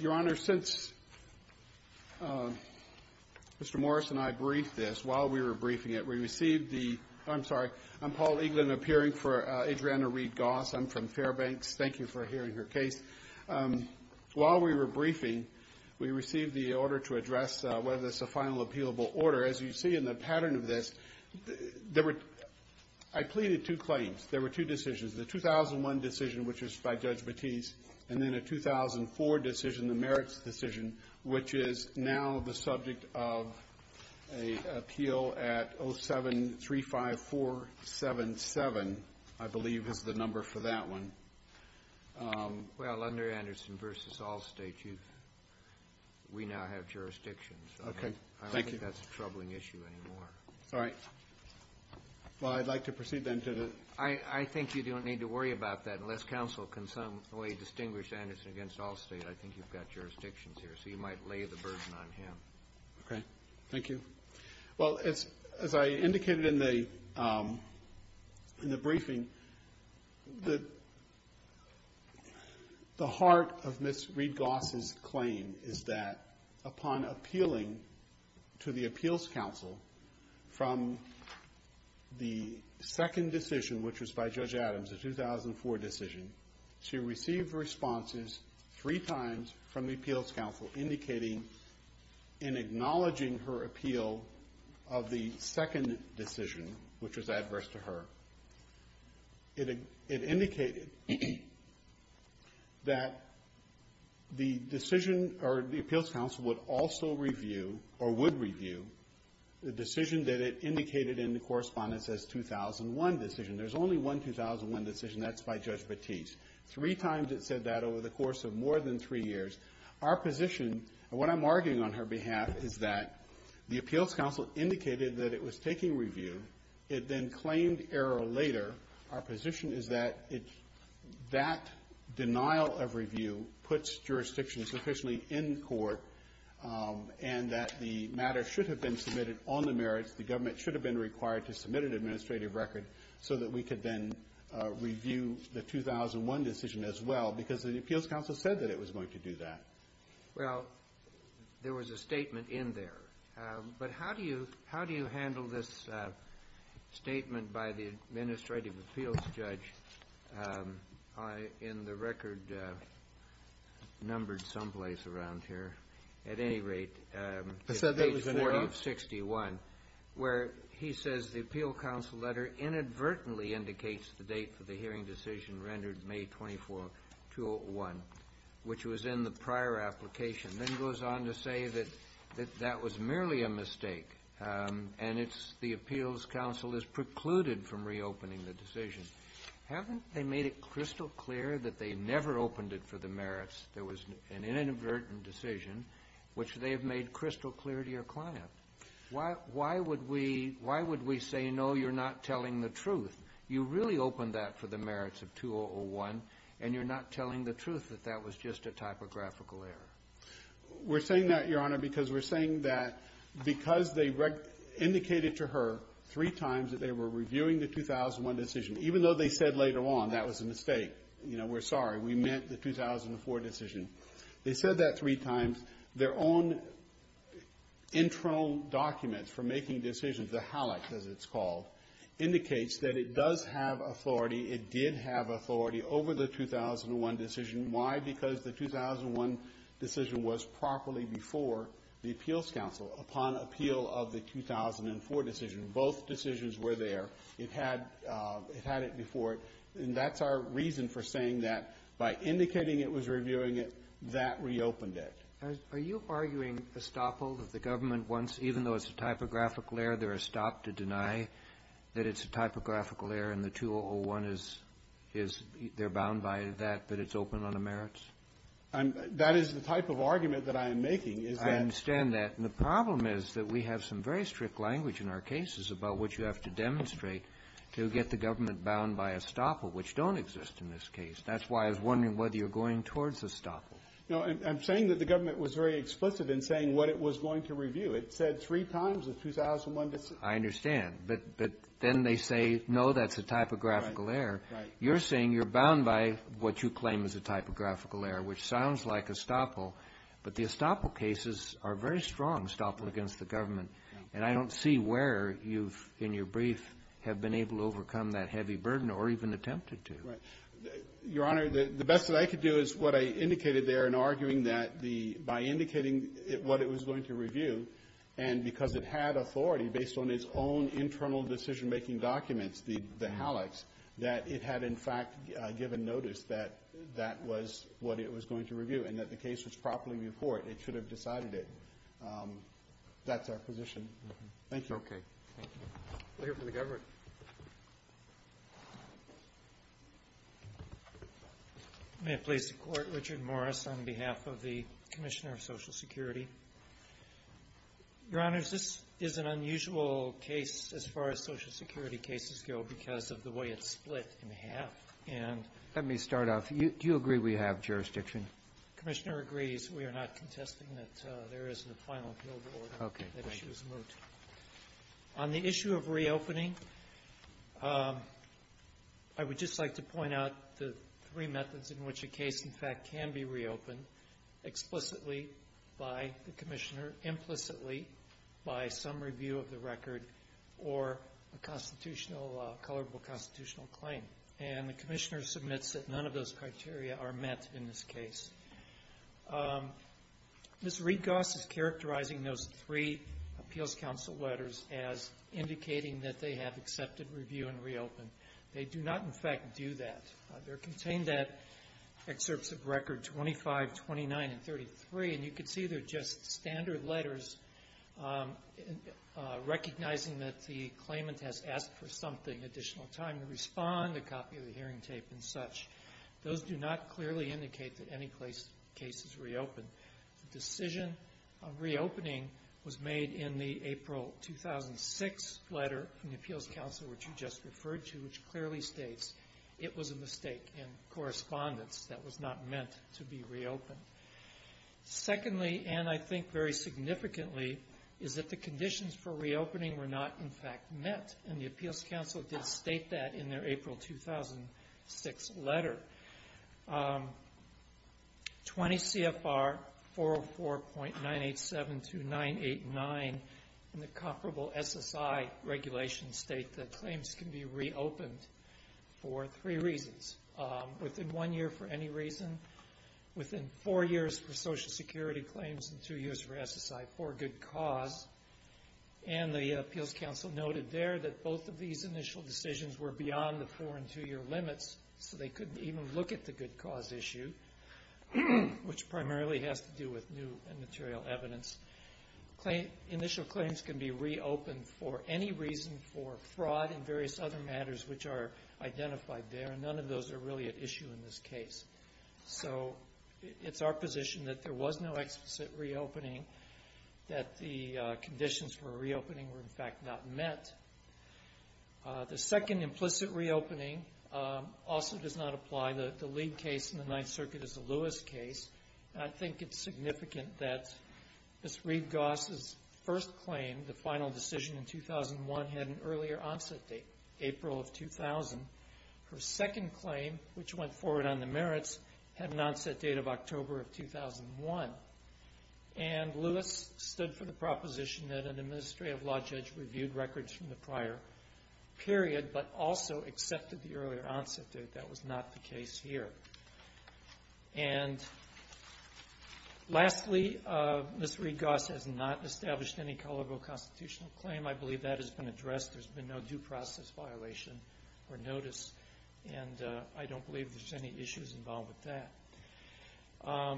Your Honor, since Mr. Morris and I briefed this, while we were briefing it, we received the – I'm sorry. I'm Paul Eaglin, appearing for Adriana Reid-Goss. I'm from Fairbanks. Thank you for hearing her case. While we were briefing, we received the order to address whether it's a final appealable order. As you see in the pattern of this, there were – I pleaded two claims. There were two decisions, the 2001 decision, which was by Judge Batiste, and then a 2004 decision, the merits decision, which is now the subject of an appeal at 0735477, I believe, is the number for that one. Well, under Anderson v. Allstate, you've – we now have jurisdictions. Okay. Thank you. I don't think that's a troubling issue anymore. All right. Well, I'd like to proceed, then, to the – I think you don't need to worry about that, unless counsel can some way distinguish Anderson against Allstate. I think you've got jurisdictions here, so you might lay the burden on him. Okay. Thank you. Well, it's – as I indicated in the briefing, the heart of Ms. Reid-Goss' claim is that upon appealing to the appeals counsel from the second decision, which was by Judge Adams, the 2004 decision, she received responses three times from the appeals counsel indicating and acknowledging her appeal of the second decision, which was adverse to her. It indicated that the decision – or the appeals counsel would also review or would review the 2001 decision. There's only one 2001 decision. That's by Judge Batiste. Three times it said that over the course of more than three years. Our position, and what I'm arguing on her behalf, is that the appeals counsel indicated that it was taking review. It then claimed error later. Our position is that it – that denial of review puts jurisdictions sufficiently in court, and that the matter should have been submitted on the merits. The government should have been required to submit an administrative record so that we could then review the 2001 decision as well, because the appeals counsel said that it was going to do that. Well, there was a statement in there. But how do you – how do you handle this statement by the administrative appeals judge? In the record numbered someplace around here. At least, it's in the record. The letter inadvertently indicates the date for the hearing decision rendered May 24, 2001, which was in the prior application, then goes on to say that that was merely a mistake and it's – the appeals counsel is precluded from reopening the decision. Haven't they made it crystal clear that they never opened it for the merits? There was an inadvertent decision, which they have made crystal clear to your client. Why would we say, no, you're not telling the truth? You really opened that for the merits of 2001, and you're not telling the truth that that was just a typographical error? We're saying that, Your Honor, because we're saying that because they indicated to her three times that they were reviewing the 2001 decision, even though they said later on that was a mistake, you know, we're sorry, we meant the 2004 decision. They said that three times. Their own internal documents for making decisions, the HALAC, as it's called, indicates that it does have authority, it did have authority over the 2001 decision. Why? Because the 2001 decision was properly before the appeals counsel upon appeal of the 2004 decision. Both decisions were there. It had – it had it before it. And that's our reason for saying that by indicating it was reviewing it, that reopened it. Are you arguing estoppel, that the government wants, even though it's a typographical error, they're estopped to deny that it's a typographical error, and the 2001 is – is – they're bound by that, that it's open on the merits? I'm – that is the type of argument that I am making, is that… I understand that. And the problem is that we have some very strict language in our cases about what you have to demonstrate to get the government bound by estoppel, which don't exist in this case. That's why I was wondering whether you're going towards estoppel. No. I'm saying that the government was very explicit in saying what it was going to review. It said three times the 2001 decision. I understand. But – but then they say, no, that's a typographical error. Right. You're saying you're bound by what you claim is a typographical error, which sounds like estoppel. But the estoppel cases are very strong, estoppel against the government. And I don't see where you've, in your brief, have been able to overcome that heavy burden or even attempted to. Right. Your Honor, the best that I could do is what I indicated there in arguing that the – by indicating what it was going to review, and because it had authority based on its own internal decision-making documents, the HALEX, that it had, in fact, given notice that that was what it was going to review and that the case was properly reported. It should have decided it. That's our position. Thank you. Okay. Thank you. We'll hear from the government. May it please the Court. Richard Morris on behalf of the Commissioner of Social Security. Your Honors, this is an unusual case, as far as Social Security cases go, because of the way it's split in half, and – Let me start off. Do you agree we have jurisdiction? Commissioner agrees. We are not contesting that there is a final appeal order. Okay. That issue is moot. On the issue of reopening, I would just like to point out the three methods in which a case, in fact, can be reopened explicitly by the Commissioner, implicitly by some review of the record, or a constitutional – a colorable constitutional claim. And the Commissioner submits that none of those criteria are met in this case. Ms. Reed-Goss is characterizing those three appeals council letters as indicating that they have accepted review and reopened. They do not, in fact, do that. They're contained at Excerpts of Record 25, 29, and 33, and you can see they're just standard letters, recognizing that the claimant has asked for something, additional time to respond, a copy of the hearing tape, and such. Those do not clearly indicate that any case is reopened. The decision of reopening was made in the April 2006 letter from the appeals council, which you just referred to, which clearly states it was a mistake in correspondence that was not meant to be reopened. Secondly, and I think very significantly, is that the conditions for reopening were not, in fact, met, and the appeals council did state that in their April 2006 letter. 20 CFR 404.987 to 989 in the comparable SSI regulation state that claims can be reopened for three reasons, within one year for any reason, within four years for Social Security claims, and two years for SSI for a good cause, and the appeals council noted there that both of these initial decisions were beyond the four and two year limits, so they couldn't even look at the good cause issue, which primarily has to do with new and material evidence. Initial claims can be reopened for any reason for fraud and various other matters which are identified there, and none of those are really at issue in this case. So it's our position that there was no explicit reopening, that the conditions for reopening were, in fact, not met. The second implicit reopening also does not apply. The lead case in the Ninth Circuit is the Lewis case, and I think it's significant that Ms. Reed-Goss' first claim, the final decision in 2001, had an earlier onset date, April of 2000. Her second claim, which went forward on the merits, had an onset date of October of 2001, and Lewis stood for the proposition that an administrative law judge reviewed records from the prior period, but also accepted the earlier onset date. That was not the case here. And lastly, Ms. Reed-Goss has not established any colorable constitutional claim. I believe that has been addressed. There's been no due process violation or notice, and I don't believe there's any issues involved with that.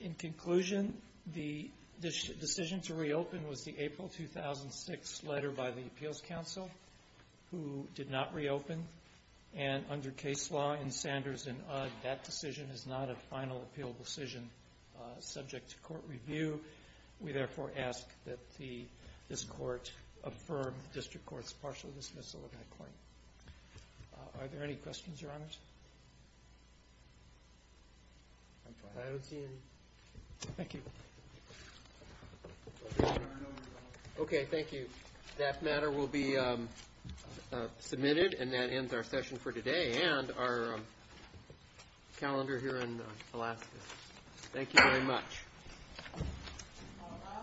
In conclusion, the decision to reopen was the April 2006 letter by the Appeals Council, who did not reopen. And under case law in Sanders and Odd, that decision is not a final appeal decision subject to court review. We therefore ask that this court affirm the district court's partial dismissal of that claim. Are there any questions, Your Honors? I don't see any. Thank you. Okay. Thank you. That matter will be submitted, and that ends our session for today, and our calendar here in Alaska. Thank you very much. All rise.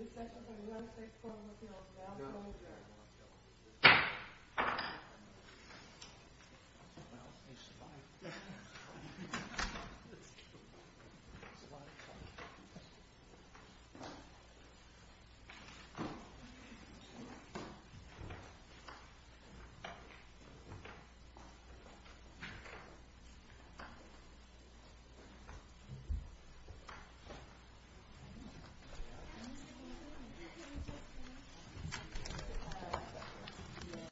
This session for the United States Court of Appeals now closed. Well, he's alive. That's true. He's alive.